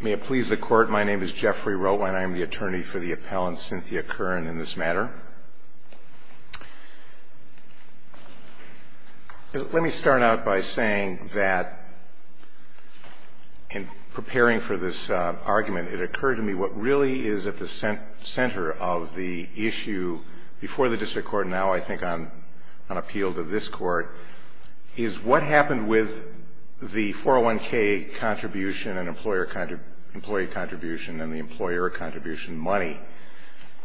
May it please the Court, my name is Jeffrey Rotwein. I am the attorney for the appellant Cynthia Curran in this matter. Let me start out by saying that, in preparing for this argument, it occurred to me what really is at the center of the issue before the District Court and now I think on appeal to this Court, is what happened with the 401k contribution, employee contribution and the employer contribution money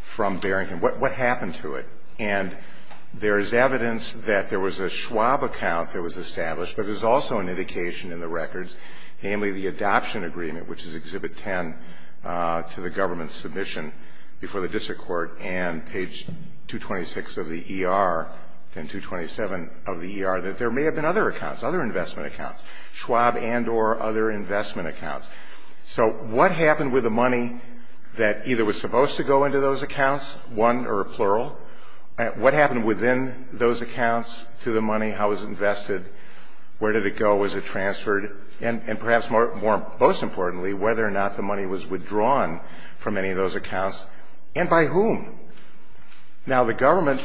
from Barrington. What happened to it? And there is evidence that there was a Schwab account that was established, but there is also an indication in the records, namely the adoption agreement, which is Exhibit 10, to the government's submission before the District Court and page 226 of the E.R. and 227 of the E.R. that there may have been other accounts, other investment accounts, Schwab and or other investment accounts. So what happened with the money that either was supposed to go into those accounts, one or plural? What happened within those accounts to the money? How was it invested? Where did it go? How was it transferred? And perhaps most importantly, whether or not the money was withdrawn from any of those accounts and by whom? Now, the government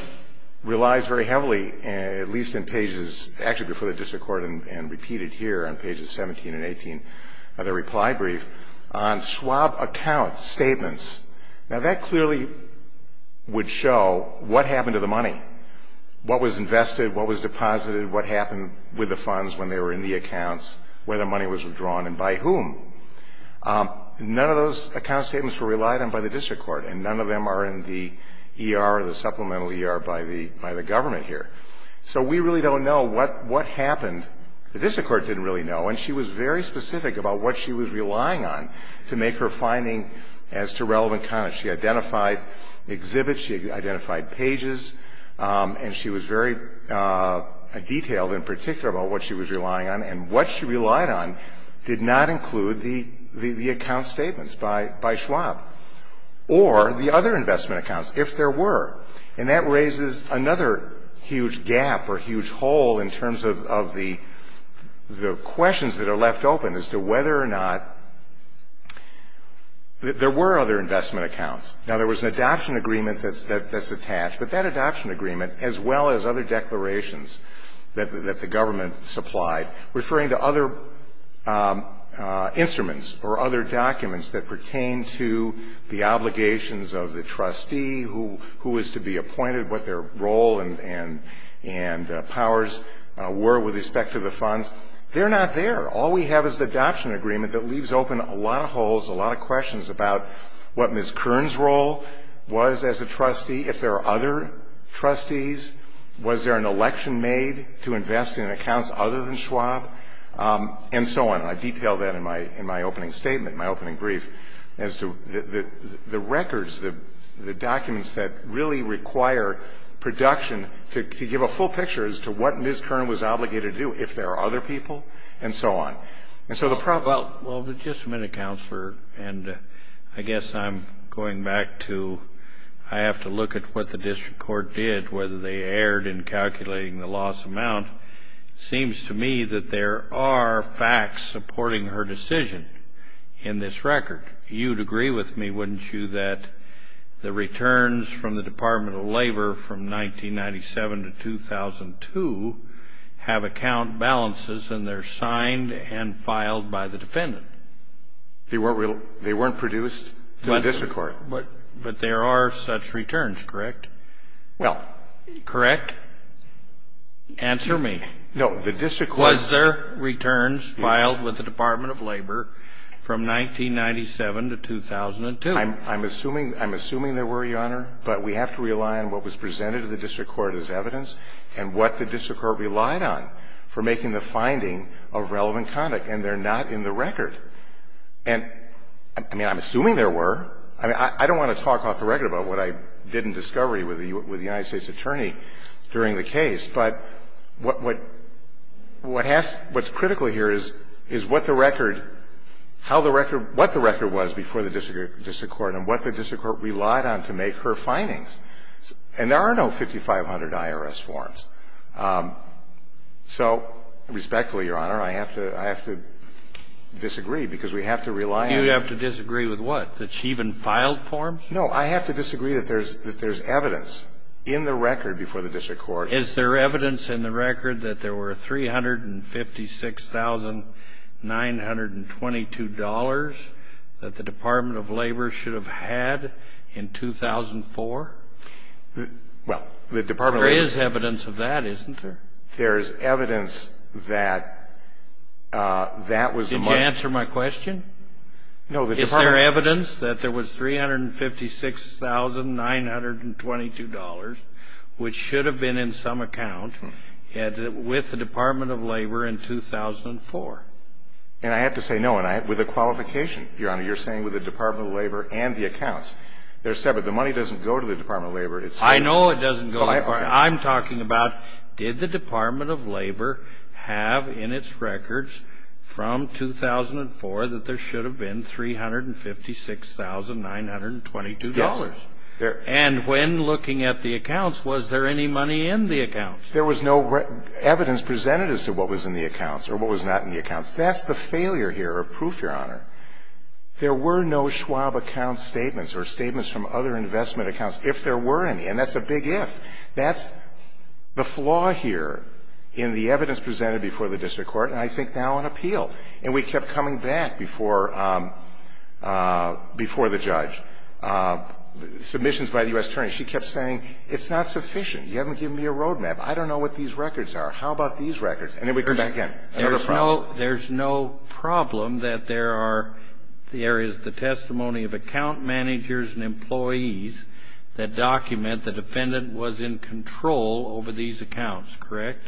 relies very heavily, at least in pages, actually before the District Court and repeated here on pages 17 and 18 of the reply brief, on Schwab account statements. Now, that clearly would show what happened to the money, what was invested, what was deposited, what happened with the funds when they were in the accounts, where the money was withdrawn and by whom. None of those account statements were relied on by the District Court, and none of them are in the E.R. or the supplemental E.R. by the government here. So we really don't know what happened. The District Court didn't really know. And she was very specific about what she was relying on to make her finding as to relevant accounts. She identified exhibits, she identified pages, and she was very detailed in particular about what she was relying on. And what she relied on did not include the account statements by Schwab or the other investment accounts, if there were. And that raises another huge gap or huge hole in terms of the questions that are left open as to whether or not there were other investment accounts. Now, there was an adoption agreement that's attached, but that adoption agreement, as well as other declarations that the government supplied referring to other instruments or other documents that pertain to the obligations of the trustee who is to be appointed, what their role and powers were with respect to the funds, they're not there. All we have is the adoption agreement that leaves open a lot of holes, a lot of questions about what Ms. Kern's role was as a trustee, if there are other trustees, was there an election made to invest in accounts other than Schwab, and so on. And I detail that in my opening statement, my opening brief, as to the records, the documents that really require production to give a full picture as to what Ms. Kern was obligated to do, if there are other people, and so on. And so the problem ñ Well, just a minute, Counselor. And I guess I'm going back to I have to look at what the district court did, whether they erred in calculating the loss amount. It seems to me that there are facts supporting her decision in this record. You'd agree with me, wouldn't you, that the returns from the Department of Labor from 1997 to 2002 have account balances and they're signed and filed by the defendant? They weren't produced in the district court. But there are such returns, correct? Well ñ Correct? Answer me. No. The district court ñ Was there returns filed with the Department of Labor from 1997 to 2002? I'm assuming there were, Your Honor, but we have to rely on what was presented to the district court as evidence and what the district court relied on for making the finding of relevant conduct, and they're not in the record. And, I mean, I'm assuming there were. I mean, I don't want to talk off the record about what I did in discovery with the United States attorney during the case, but what has ñ what's critical here is what the record ñ how the record ñ what the record was before the district court and what the district court relied on to make her findings. And there are no 5500 IRS forms. So, respectfully, Your Honor, I have to ñ I have to disagree because we have to rely on ñ You have to disagree with what? That she even filed forms? No. I have to disagree that there's ñ that there's evidence in the record before the district court. Is there evidence in the record that there were $356,922 that the Department of Labor should have had in 2004? Well, the Department of ñ There is evidence of that, isn't there? There is evidence that that was the money ñ Did you answer my question? No, the Department of ñ Is there evidence that there was $356,922 which should have been in some account with the Department of Labor in 2004? And I have to say no. With a qualification, Your Honor. You're saying with the Department of Labor and the accounts. They're separate. The money doesn't go to the Department of Labor. It's ñ I know it doesn't go to the Department of Labor. I'm talking about did the Department of Labor have in its records from 2004 that there should have been $356,922? Yes. And when looking at the accounts, was there any money in the accounts? There was no evidence presented as to what was in the accounts or what was not in the accounts. That's the failure here of proof, Your Honor. There were no Schwab account statements or statements from other investment accounts if there were any. And that's a big if. That's the flaw here in the evidence presented before the district court and I think now on appeal. And we kept coming back before the judge, submissions by the U.S. attorney. She kept saying, it's not sufficient. You haven't given me a roadmap. I don't know what these records are. How about these records? And then we come back in. There's no problem that there are, there is the testimony of account managers and employees that document the defendant was in control over these accounts, correct?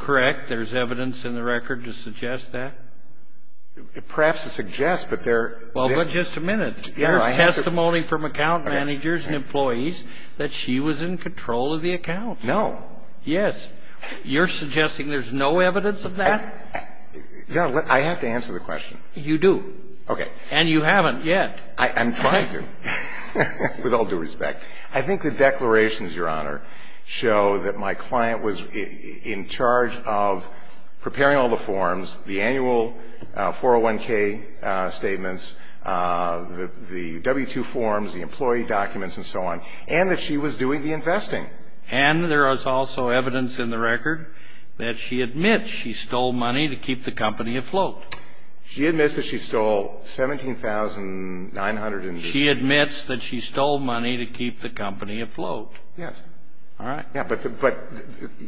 Correct. There's evidence in the record to suggest that. Perhaps it suggests, but there. Well, but just a minute. There's testimony from account managers and employees that she was in control of the accounts. No. Yes. You're suggesting there's no evidence of that? I have to answer the question. You do. Okay. And you haven't yet. I'm trying to, with all due respect. I think the declarations, Your Honor, show that my client was in charge of preparing all the forms, the annual 401k statements, the W-2 forms, the employee documents, and so on, and that she was doing the investing. And there is also evidence in the record that she admits she stole money to keep the company afloat. She admits that she stole $17,900. She admits that she stole money to keep the company afloat. Yes. All right. Yes, but.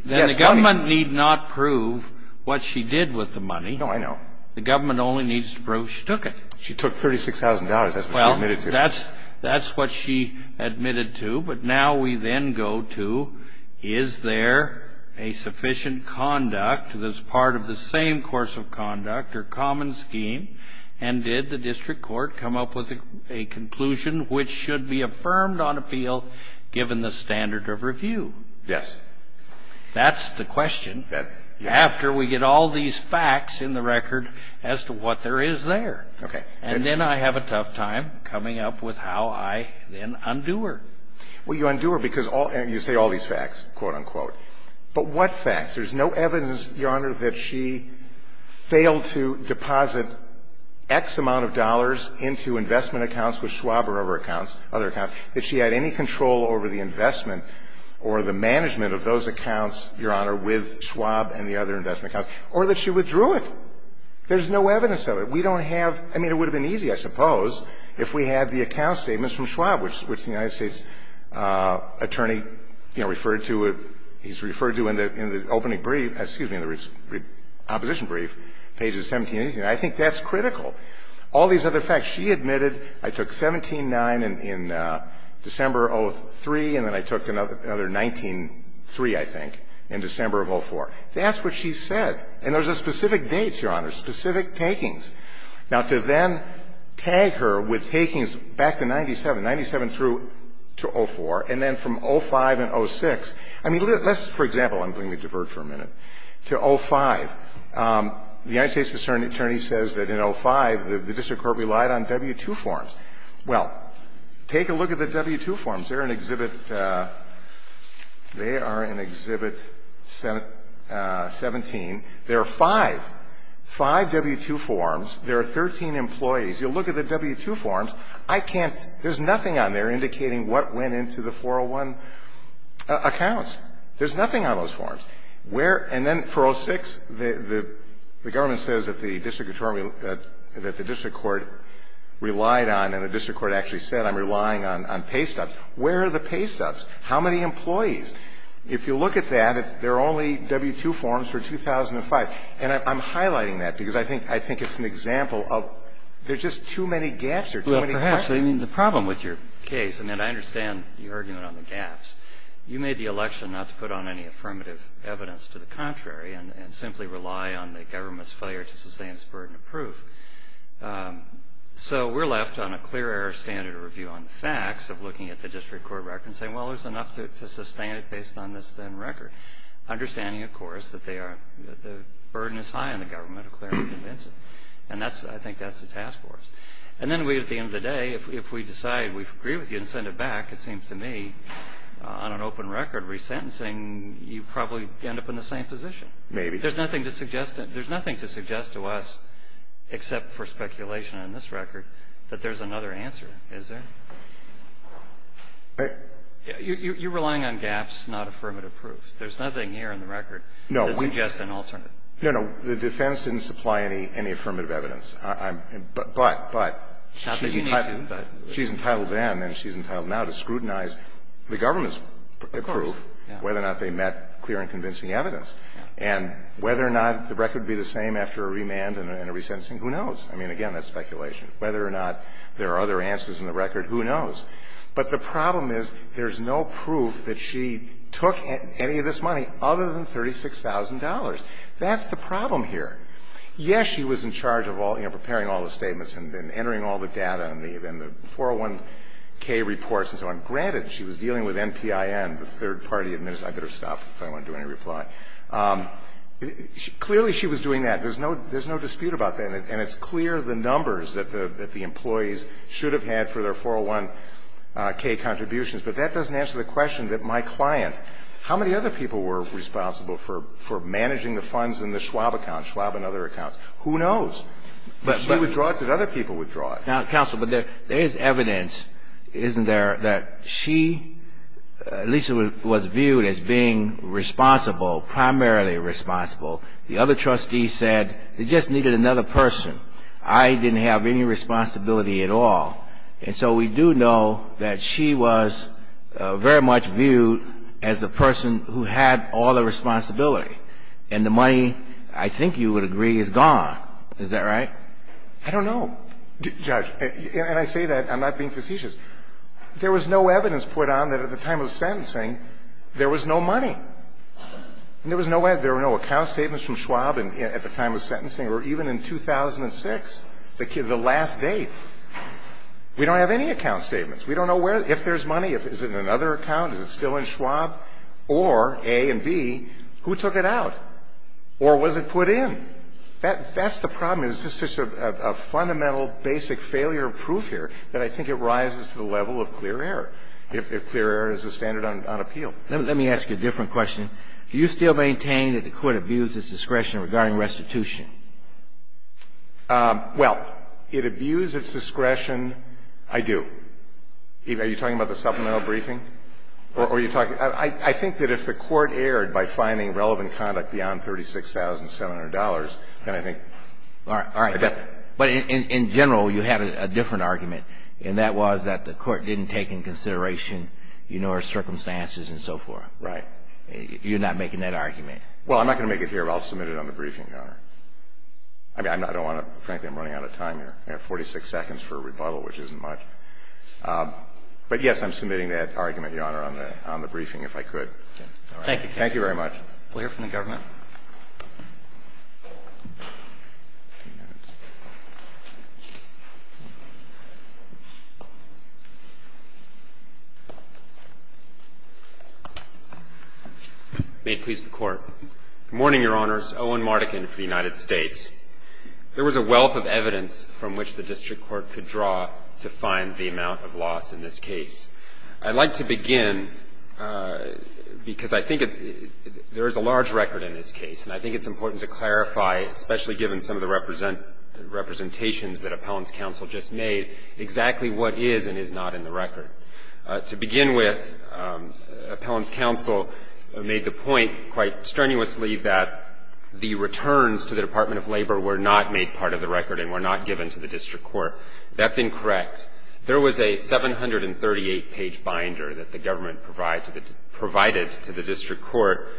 Then the government need not prove what she did with the money. No, I know. The government only needs to prove she took it. She took $36,000. That's what she admitted to. But now we then go to, is there a sufficient conduct that's part of the same course of conduct or common scheme, and did the district court come up with a conclusion which should be affirmed on appeal given the standard of review? Yes. That's the question after we get all these facts in the record as to what there is there. Okay. And then I have a tough time coming up with how I then undo her. Well, you undo her because all you say all these facts, quote, unquote. But what facts? There's no evidence, Your Honor, that she failed to deposit X amount of dollars into investment accounts with Schwab or other accounts, other accounts, that she had any control over the investment or the management of those accounts, Your Honor, with Schwab and the other investment accounts, or that she withdrew it. There's no evidence of it. We don't have – I mean, it would have been easy, I suppose, if we had the account statements from Schwab, which the United States attorney, you know, referred to in the opening brief – excuse me, in the opposition brief, pages 17 and 18. I think that's critical. All these other facts. She admitted, I took 17-9 in December of 2003, and then I took another 19-3, I think, in December of 2004. That's what she said. And those are specific dates, Your Honor, specific takings. Now, to then tag her with takings back to 97, 97 through to 04, and then from 05 and 06, I mean, let's, for example – I'm going to divert for a minute – to 05. The United States attorney says that in 05 the district court relied on W-2 forms. Well, take a look at the W-2 forms. They're an exhibit – they are in Exhibit 17. There are five. Five W-2 forms. There are 13 employees. You'll look at the W-2 forms. I can't – there's nothing on there indicating what went into the 401 accounts. There's nothing on those forms. Where – and then for 06, the government says that the district attorney – that the district court relied on, and the district court actually said, I'm relying on pay stubs. Where are the pay stubs? How many employees? If you look at that, there are only W-2 forms for 2005. And I'm highlighting that because I think it's an example of there's just too many gaps or too many questions. Well, perhaps. I mean, the problem with your case – I mean, I understand your argument on the gaps. You made the election not to put on any affirmative evidence to the contrary and simply rely on the government's failure to sustain its burden of proof. So we're left on a clear air standard of review on the facts of looking at the district court record and saying, well, there's enough to sustain it based on this then record. Understanding, of course, that they are – that the burden is high on the government of clearly convincing. And that's – I think that's the task force. And then we – at the end of the day, if we decide we agree with you and send it back, it seems to me on an open record resentencing, you probably end up in the same position. Maybe. There's nothing to suggest – there's nothing to suggest to us, except for speculation on this record, that there's another answer, is there? You're relying on gaps, not affirmative proof. There's nothing here in the record that suggests an alternate. No, no. The defense didn't supply any affirmative evidence. But, but, but. Not that you need to, but. She's entitled then and she's entitled now to scrutinize the government's proof whether or not they met clear and convincing evidence. And whether or not the record would be the same after a remand and a resentencing, who knows. I mean, again, that's speculation. Whether or not there are other answers in the record, who knows. But the problem is there's no proof that she took any of this money other than $36,000. That's the problem here. Yes, she was in charge of all – you know, preparing all the statements and entering all the data and the 401k reports and so on. Granted, she was dealing with NPIN, the third party administration. I better stop if I don't want to do any reply. Clearly, she was doing that. There's no dispute about that. And it's clear the numbers that the employees should have had for their 401k contributions. But that doesn't answer the question that my client, how many other people were responsible for managing the funds in the Schwab account, Schwab and other accounts? Who knows? Did she withdraw it? Did other people withdraw it? Counsel, but there is evidence, isn't there, that she at least was viewed as being responsible, primarily responsible. The other trustee said they just needed another person. I didn't have any responsibility at all. And so we do know that she was very much viewed as the person who had all the responsibility. And the money, I think you would agree, is gone. Is that right? I don't know. Judge, and I say that. I'm not being facetious. There was no evidence put on that at the time of the sentencing there was no money. And there was no account statements from Schwab at the time of the sentencing or even in 2006, the last date. We don't have any account statements. We don't know if there's money. Is it in another account? Is it still in Schwab? Or, A and B, who took it out? Or was it put in? That's the problem. It's just such a fundamental, basic failure of proof here that I think it rises to the level of clear error, if clear error is the standard on appeal. Let me ask you a different question. Do you still maintain that the Court abused its discretion regarding restitution? Well, it abused its discretion. I do. Are you talking about the supplemental briefing? Or are you talking? I think that if the Court erred by finding relevant conduct beyond $36,700, then I think that the Court would have to make that argument. All right. But in general, you had a different argument, and that was that the Court didn't take into consideration, you know, her circumstances and so forth. Right. You're not making that argument. Well, I'm not going to make it here, but I'll submit it on the briefing, Your Honor. I mean, I don't want to – frankly, I'm running out of time here. I have 46 seconds for a rebuttal, which isn't much. But, yes, I'm submitting that argument, Your Honor, on the briefing, if I could. Thank you. Thank you very much. We'll hear from the government. May it please the Court. Good morning, Your Honors. Owen Mardekin for the United States. There was a wealth of evidence from which the district court could draw to find the amount of loss in this case. I'd like to begin because I think it's – there is a large record in this case, and I think it's important to clarify, especially given some of the representations that Appellant's counsel just made, exactly what is and is not in the record. To begin with, Appellant's counsel made the point quite strenuously that the returns to the Department of Labor were not made part of the record and were not given to the district court. That's incorrect. There was a 738-page binder that the government provided to the district court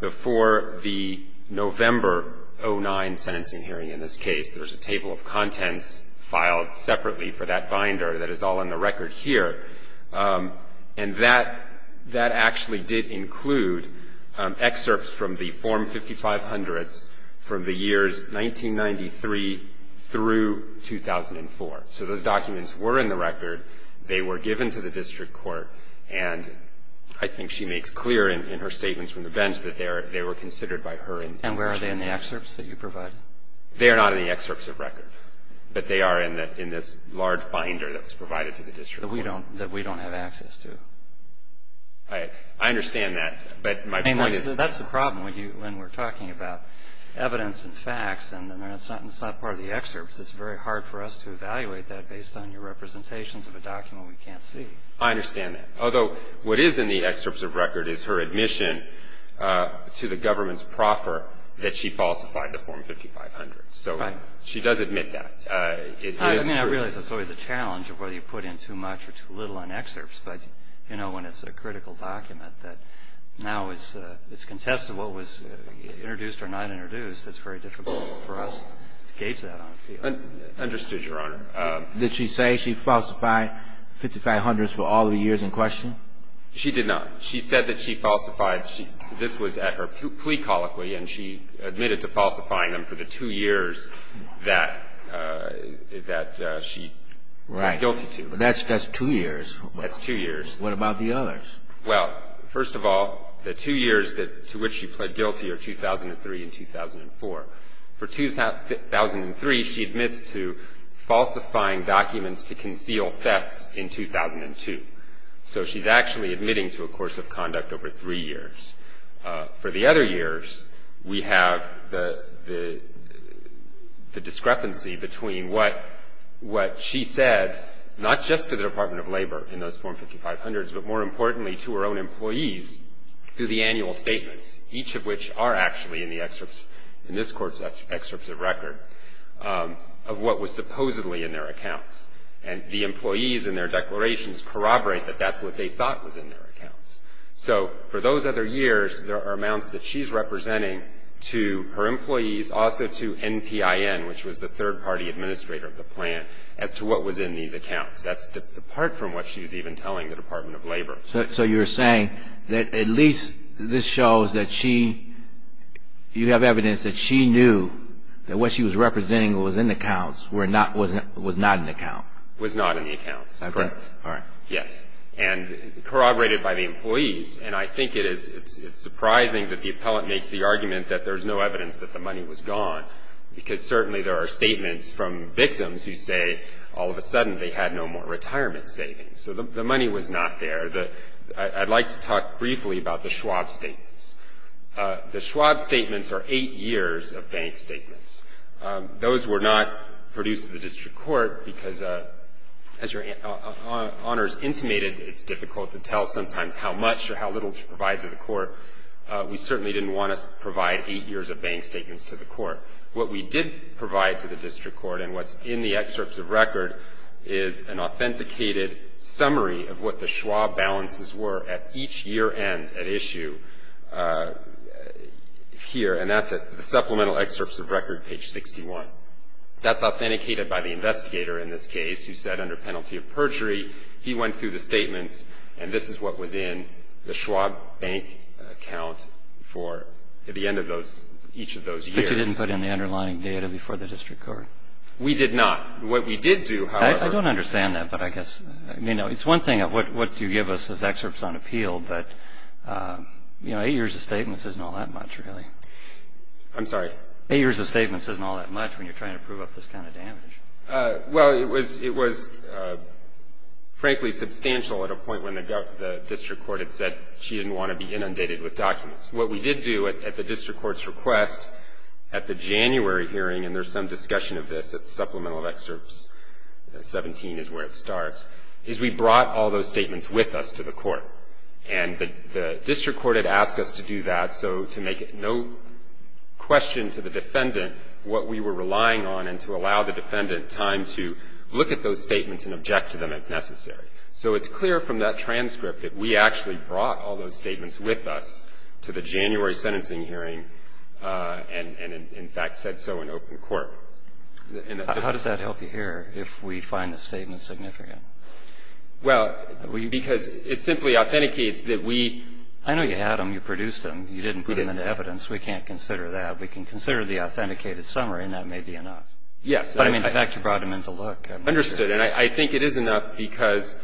before the November 09 sentencing hearing in this case. There was a table of contents filed separately for that binder that is all in the record here. And that actually did include excerpts from the Form 5500s from the years 1993 through 2004. So those documents were in the record. They were given to the district court. And I think she makes clear in her statements from the bench that they were considered by her in those cases. And where are they in the excerpts that you provided? They are not in the excerpts of record. But they are in this large binder that was provided to the district court. That we don't have access to. I understand that, but my point is – I mean, that's the problem when we're talking about evidence and facts, and it's not part of the excerpts. It's very hard for us to evaluate that based on your representations of a document we can't see. I understand that. Although, what is in the excerpts of record is her admission to the government's proffer that she falsified the Form 5500. So she does admit that. I mean, I realize that's always a challenge of whether you put in too much or too little on excerpts. But, you know, when it's a critical document that now it's contested what was introduced or not introduced, it's very difficult for us to gauge that on a field. Understood, Your Honor. Did she say she falsified 5500s for all the years in question? She did not. She said that she falsified – this was at her plea colloquy, and she admitted to falsifying them for the two years that she was guilty to. Right. That's two years. That's two years. What about the others? Well, first of all, the two years to which she pled guilty are 2003 and 2004. For 2003, she admits to falsifying documents to conceal thefts in 2002. So she's actually admitting to a course of conduct over three years. For the other years, we have the discrepancy between what she said, not just to the Department of Labor in those Form 5500s, but more importantly to her own employees through the annual statements, each of which are actually in the excerpts, in this Court's excerpts of record, of what was supposedly in their accounts. And the employees in their declarations corroborate that that's what they thought was in their accounts. So for those other years, there are amounts that she's representing to her employees, also to NPIN, which was the third-party administrator of the plant, as to what was in these accounts. That's apart from what she was even telling the Department of Labor. So you're saying that at least this shows that she – you have evidence that she knew that what she was representing was in the accounts, was not in the accounts. Was not in the accounts. Correct. All right. Yes. And corroborated by the employees. And I think it's surprising that the appellant makes the argument that there's no evidence that the money was gone, because certainly there are statements from victims who say all of a sudden they had no more retirement savings. So the money was not there. I'd like to talk briefly about the Schwab statements. The Schwab statements are eight years of bank statements. Those were not produced to the district court, because as your honors intimated, it's difficult to tell sometimes how much or how little to provide to the court. We certainly didn't want to provide eight years of bank statements to the court. What we did provide to the district court and what's in the excerpts of record is an authenticated summary of what the Schwab balances were at each year end at issue here. And that's at the supplemental excerpts of record, page 61. That's authenticated by the investigator in this case, who said under penalty of perjury, he went through the statements, and this is what was in the Schwab bank account for the end of those – each of those years. But you didn't put in the underlying data before the district court. We did not. What we did do, however – I don't understand that, but I guess – I mean, it's one thing what you give us as excerpts on appeal, but, you know, eight years of statements isn't all that much, really. I'm sorry? Eight years of statements isn't all that much when you're trying to prove up this kind of damage. Well, it was frankly substantial at a point when the district court had said she didn't want to be inundated with documents. What we did do at the district court's request at the January hearing, and there's some discussion of this at the supplemental excerpts, 17 is where it starts, is we brought all those statements with us to the court. And the district court had asked us to do that so to make it no question to the defendant what we were relying on and to allow the defendant time to look at those statements and object to them if necessary. So it's clear from that transcript that we actually brought all those statements with us to the January sentencing hearing and, in fact, said so in open court. How does that help you here if we find the statement significant? Well, because it simply authenticates that we – I know you had them. You produced them. You didn't put them into evidence. We can't consider that. We can consider the authenticated summary, and that may be enough. Yes. But, I mean, in fact, you brought them in to look. Understood. And I think it is enough because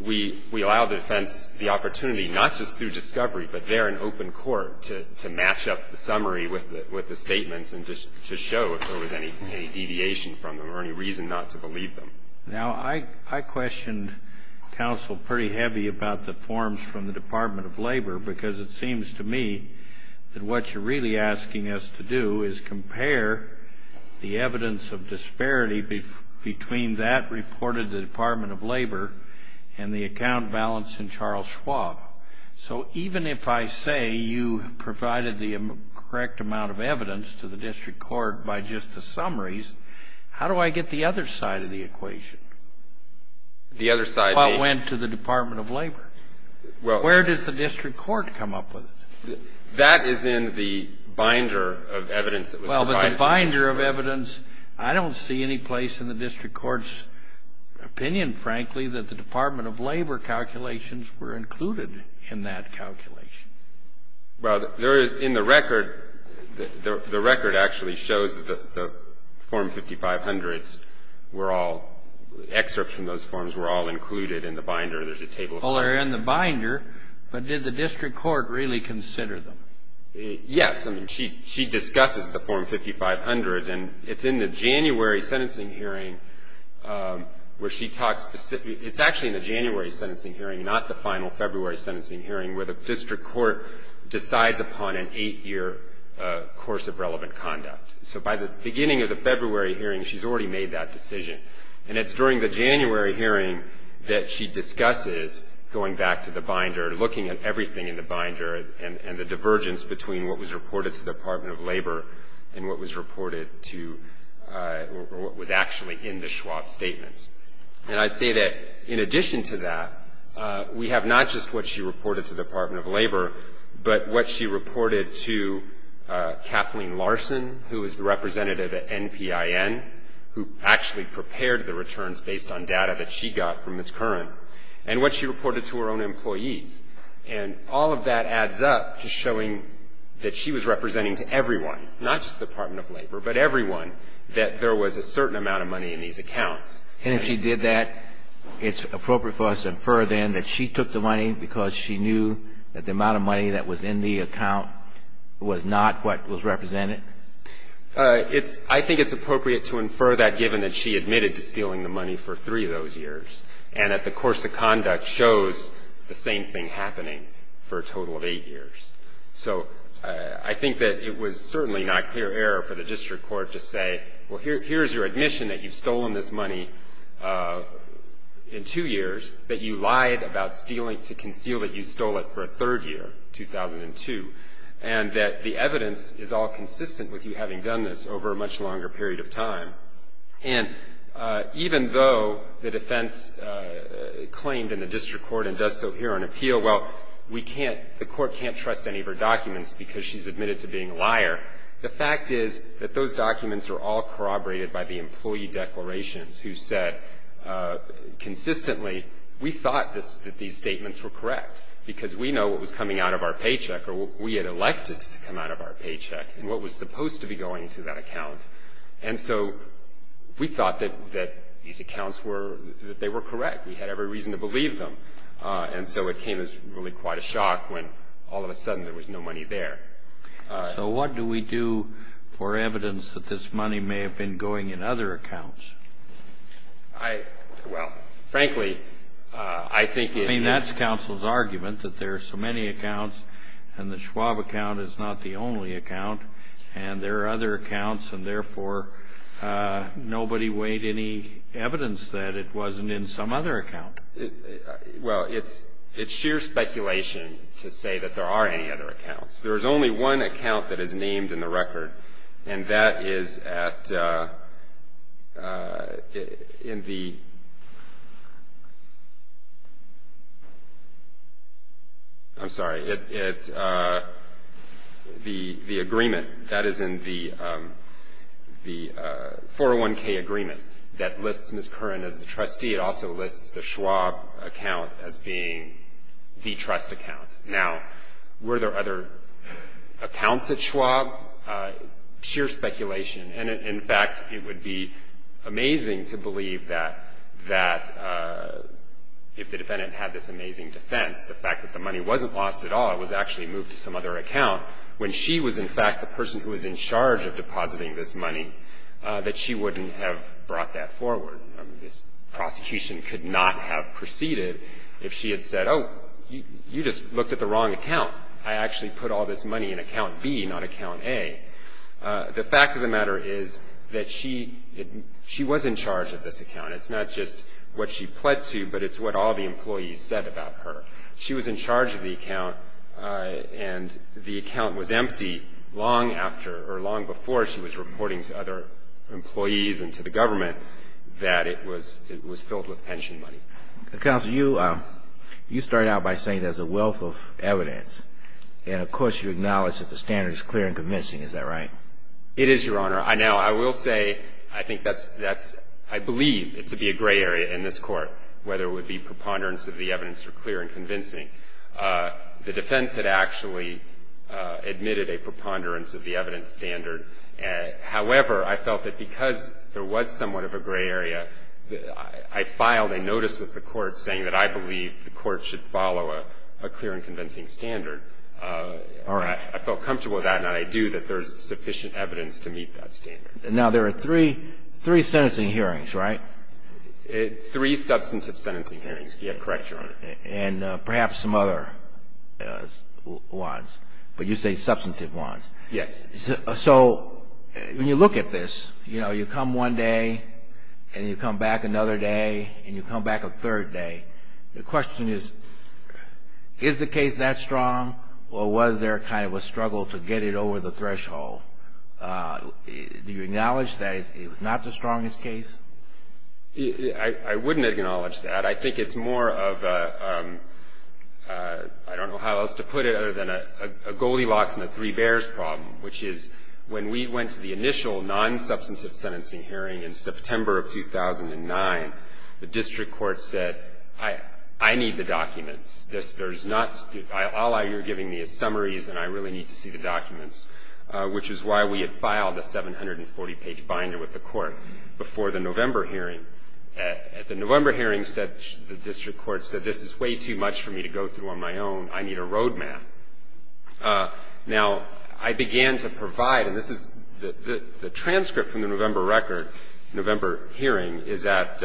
we allow the defense the opportunity, not just through discovery, but there in open court to match up the summary with the statements and to show if there was any deviation from them or any reason not to believe them. Now, I questioned counsel pretty heavy about the forms from the Department of Labor because it seems to me that what you're really asking us to do is compare the evidence of disparity between that reported to the Department of Labor and the account balance in Charles Schwab. So even if I say you provided the correct amount of evidence to the district court by just the summaries, how do I get the other side of the equation? The other side? What went to the Department of Labor? Where does the district court come up with it? That is in the binder of evidence that was provided. Well, but the binder of evidence, I don't see any place in the district court's opinion, frankly, that the Department of Labor calculations were included in that calculation. Well, there is in the record, the record actually shows that the form 5500s were all, excerpts from those forms were all included in the binder. There's a table of contents. Well, they're in the binder, but did the district court really consider them? Yes. I mean, she discusses the form 5500s, and it's in the January sentencing hearing where she talks, it's actually in the January sentencing hearing, not the final February sentencing hearing, where the district court decides upon an eight-year course of relevant conduct. So by the beginning of the February hearing, she's already made that decision. And it's during the January hearing that she discusses going back to the binder, looking at everything in the binder, and the divergence between what was reported to the Department of Labor and what was reported to, or what was actually in the Schwab statements. And I'd say that in addition to that, we have not just what she reported to the Department of Labor, but what she reported to Kathleen Larson, who is the representative at NPIN, who actually prepared the returns based on data that she got from Ms. Curran, and what she reported to her own employees. And all of that adds up to showing that she was representing to everyone, not just the Department of Labor, but everyone, that there was a certain amount of money in these accounts. And if she did that, it's appropriate for us to infer then that she took the money because she knew that the amount of money that was in the account was not what was represented? I think it's appropriate to infer that given that she admitted to stealing the money for three of those years and that the course of conduct shows the same thing happening for a total of eight years. So I think that it was certainly not clear error for the district court to say, well, here's your admission that you've stolen this money in two years, that you lied about stealing to conceal that you stole it for a third year, 2002, and that the evidence is all consistent with you having done this over a much longer period of time. And even though the defense claimed in the district court and does so here on appeal, well, we can't, the court can't trust any of her documents because she's admitted to being a liar. The fact is that those documents are all corroborated by the employee declarations who said consistently, we thought that these statements were correct because we know what was coming out of our paycheck or we had elected to come out of our paycheck and what was supposed to be going into that account. And so we thought that these accounts were, that they were correct. We had every reason to believe them. And so it came as really quite a shock when all of a sudden there was no money there. So what do we do for evidence that this money may have been going in other accounts? I, well, frankly, I think it is. I mean, that's counsel's argument that there are so many accounts and the Schwab account is not the only account and there are other accounts and therefore nobody weighed any evidence that it wasn't in some other account. Well, it's sheer speculation to say that there are any other accounts. There is only one account that is named in the record and that is at, in the, I'm sorry, it's the agreement that is in the 401K agreement that lists Ms. Curran as the trustee. It also lists the Schwab account as being the trust account. Now, were there other accounts at Schwab? Sheer speculation. And, in fact, it would be amazing to believe that, that if the defendant had this amazing defense, the fact that the money wasn't lost at all, it was actually moved to some other account, when she was, in fact, the person who was in charge of depositing this money, that she wouldn't have brought that forward. I mean, this prosecution could not have proceeded if she had said, oh, you just looked at the wrong account. I actually put all this money in account B, not account A. The fact of the matter is that she was in charge of this account. It's not just what she pled to, but it's what all the employees said about her. She was in charge of the account and the account was empty long after, or long before, she was reporting to other employees and to the government that it was filled with pension money. Counsel, you started out by saying there's a wealth of evidence. And, of course, you acknowledge that the standard is clear and convincing. Is that right? It is, Your Honor. Now, I will say, I think that's – I believe it to be a gray area in this Court, whether it would be preponderance of the evidence or clear and convincing. The defense had actually admitted a preponderance of the evidence standard. However, I felt that because there was somewhat of a gray area, I filed a notice with the Court saying that I believe the Court should follow a clear and convincing standard. All right. I felt comfortable with that, and I do, that there's sufficient evidence to meet that standard. Now, there are three sentencing hearings, right? Three substantive sentencing hearings. Yeah, correct, Your Honor. And perhaps some other ones, but you say substantive ones. Yes. So when you look at this, you know, you come one day and you come back another day and you come back a third day, the question is, is the case that strong or was there kind of a struggle to get it over the threshold? Do you acknowledge that it was not the strongest case? I wouldn't acknowledge that. I think it's more of a — I don't know how else to put it other than a Goldilocks and a Three Bears problem, which is when we went to the initial non-substantive sentencing hearing in September of 2009, the district court said, I need the documents. There's not — all you're giving me is summaries, and I really need to see the documents, which is why we had filed a 740-page binder with the Court before the November hearing. At the November hearing, the district court said, this is way too much for me to go through on my own. I need a road map. Now, I began to provide, and this is the transcript from the November record, November hearing is at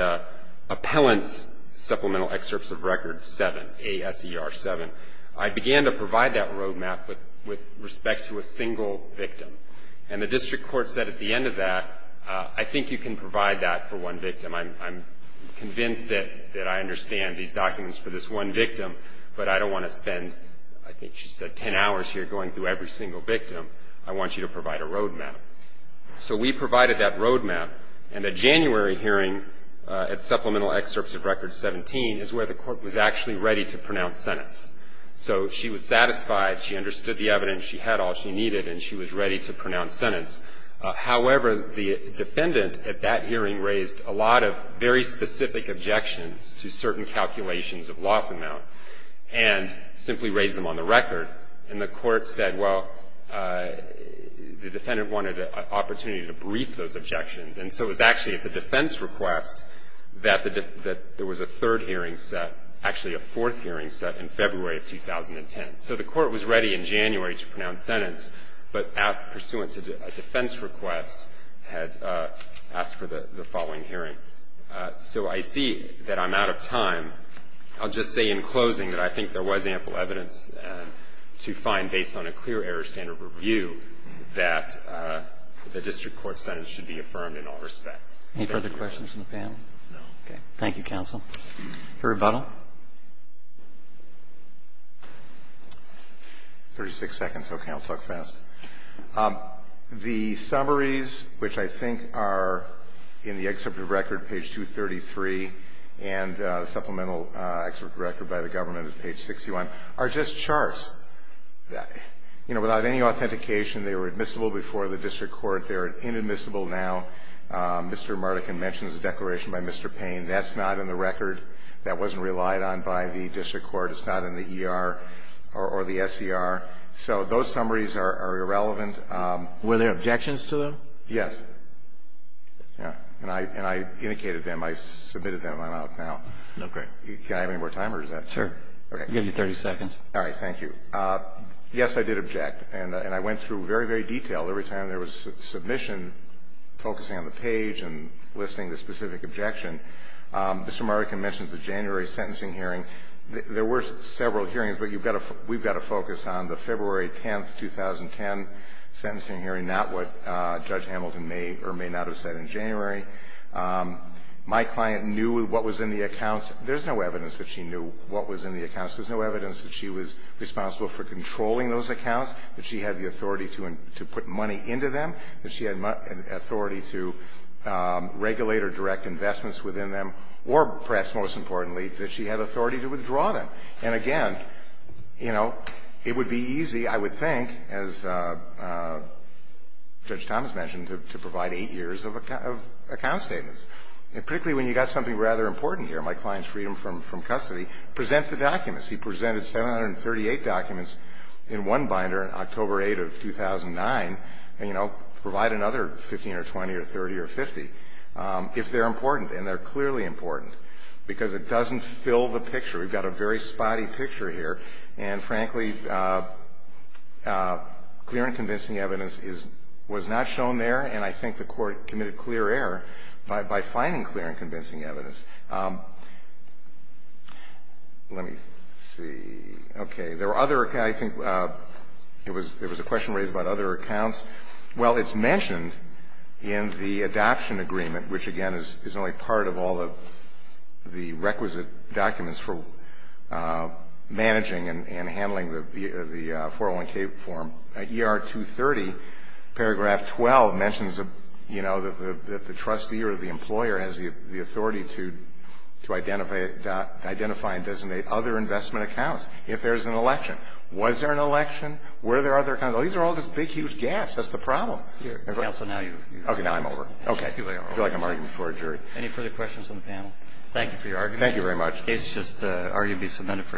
Appellant's Supplemental Excerpts of Record 7, A.S.E.R. 7. I began to provide that road map with respect to a single victim. And the district court said at the end of that, I think you can provide that for one victim. I'm convinced that I understand these documents for this one victim, but I don't want to spend, I think she said, 10 hours here going through every single victim. I want you to provide a road map. So we provided that road map, and the January hearing at Supplemental Excerpts of Record 17 is where the court was actually ready to pronounce sentence. So she was satisfied. She understood the evidence. She had all she needed, and she was ready to pronounce sentence. However, the defendant at that hearing raised a lot of very specific objections to certain calculations of loss amount and simply raised them on the record. And the court said, well, the defendant wanted an opportunity to brief those objections. And so it was actually at the defense request that there was a third hearing set, actually a fourth hearing set in February of 2010. So the court was ready in January to pronounce sentence, but pursuant to a defense request, had asked for the following hearing. So I see that I'm out of time. I'll just say in closing that I think there was ample evidence to find, based on a clear error standard review, that the district court sentence should be affirmed in all respects. Thank you. Roberts. Any further questions from the panel? Okay. Thank you, counsel. Your rebuttal. Thirty-six seconds. Okay. I'll talk fast. The summaries, which I think are in the excerpt of record, page 233, and the supplemental excerpt of record by the government is page 61, are just charts. You know, without any authentication, they were admissible before the district court. They're inadmissible now. Mr. Mardikin mentions a declaration by Mr. Payne. That's not in the record. That wasn't relied on by the district court. It's not in the ER or the SCR. So those summaries are irrelevant. Were there objections to them? Yes. And I indicated them. I submitted them. I'm out now. Okay. Can I have any more time, or is that? Sure. I'll give you 30 seconds. All right. Thank you. Yes, I did object. And I went through very, very detailed. Every time there was a submission focusing on the page and listing the specific objection, Mr. Mardikin mentions the January sentencing hearing. There were several hearings, but you've got to – we've got to focus on the February 10, 2010 sentencing hearing, not what Judge Hamilton may or may not have said in January. My client knew what was in the accounts. There's no evidence that she knew what was in the accounts. There's no evidence that she was responsible for controlling those accounts, that she had the authority to put money into them, that she had authority to regulate or direct investments within them, or, perhaps most importantly, that she had authority to withdraw them. And, again, you know, it would be easy, I would think, as Judge Thomas mentioned, to provide eight years of account statements, particularly when you've got something rather important here. My client's freedom from custody. Present the documents. He presented 738 documents in one binder, October 8 of 2009, and, you know, provide another 15 or 20 or 30 or 50, if they're important, and they're clearly important, because it doesn't fill the picture. We've got a very spotty picture here. And, frankly, clear and convincing evidence is – was not shown there, and I think the Court committed clear error by finding clear and convincing evidence. Let me see. Okay. There were other – I think it was a question raised about other accounts. Well, it's mentioned in the adoption agreement, which, again, is only part of all of the requisite documents for managing and handling the 401k form. ER 230, paragraph 12, mentions, you know, that the trustee or the employer has the authority to identify and designate other investment accounts if there's an election. Was there an election? Were there other accounts? These are all just big, huge gaps. That's the problem. Counsel, now you've – Okay. Now I'm over. Okay. I feel like I'm arguing before a jury. Any further questions on the panel? Thank you for your argument. Thank you very much. The case is just arguably submitted for decision.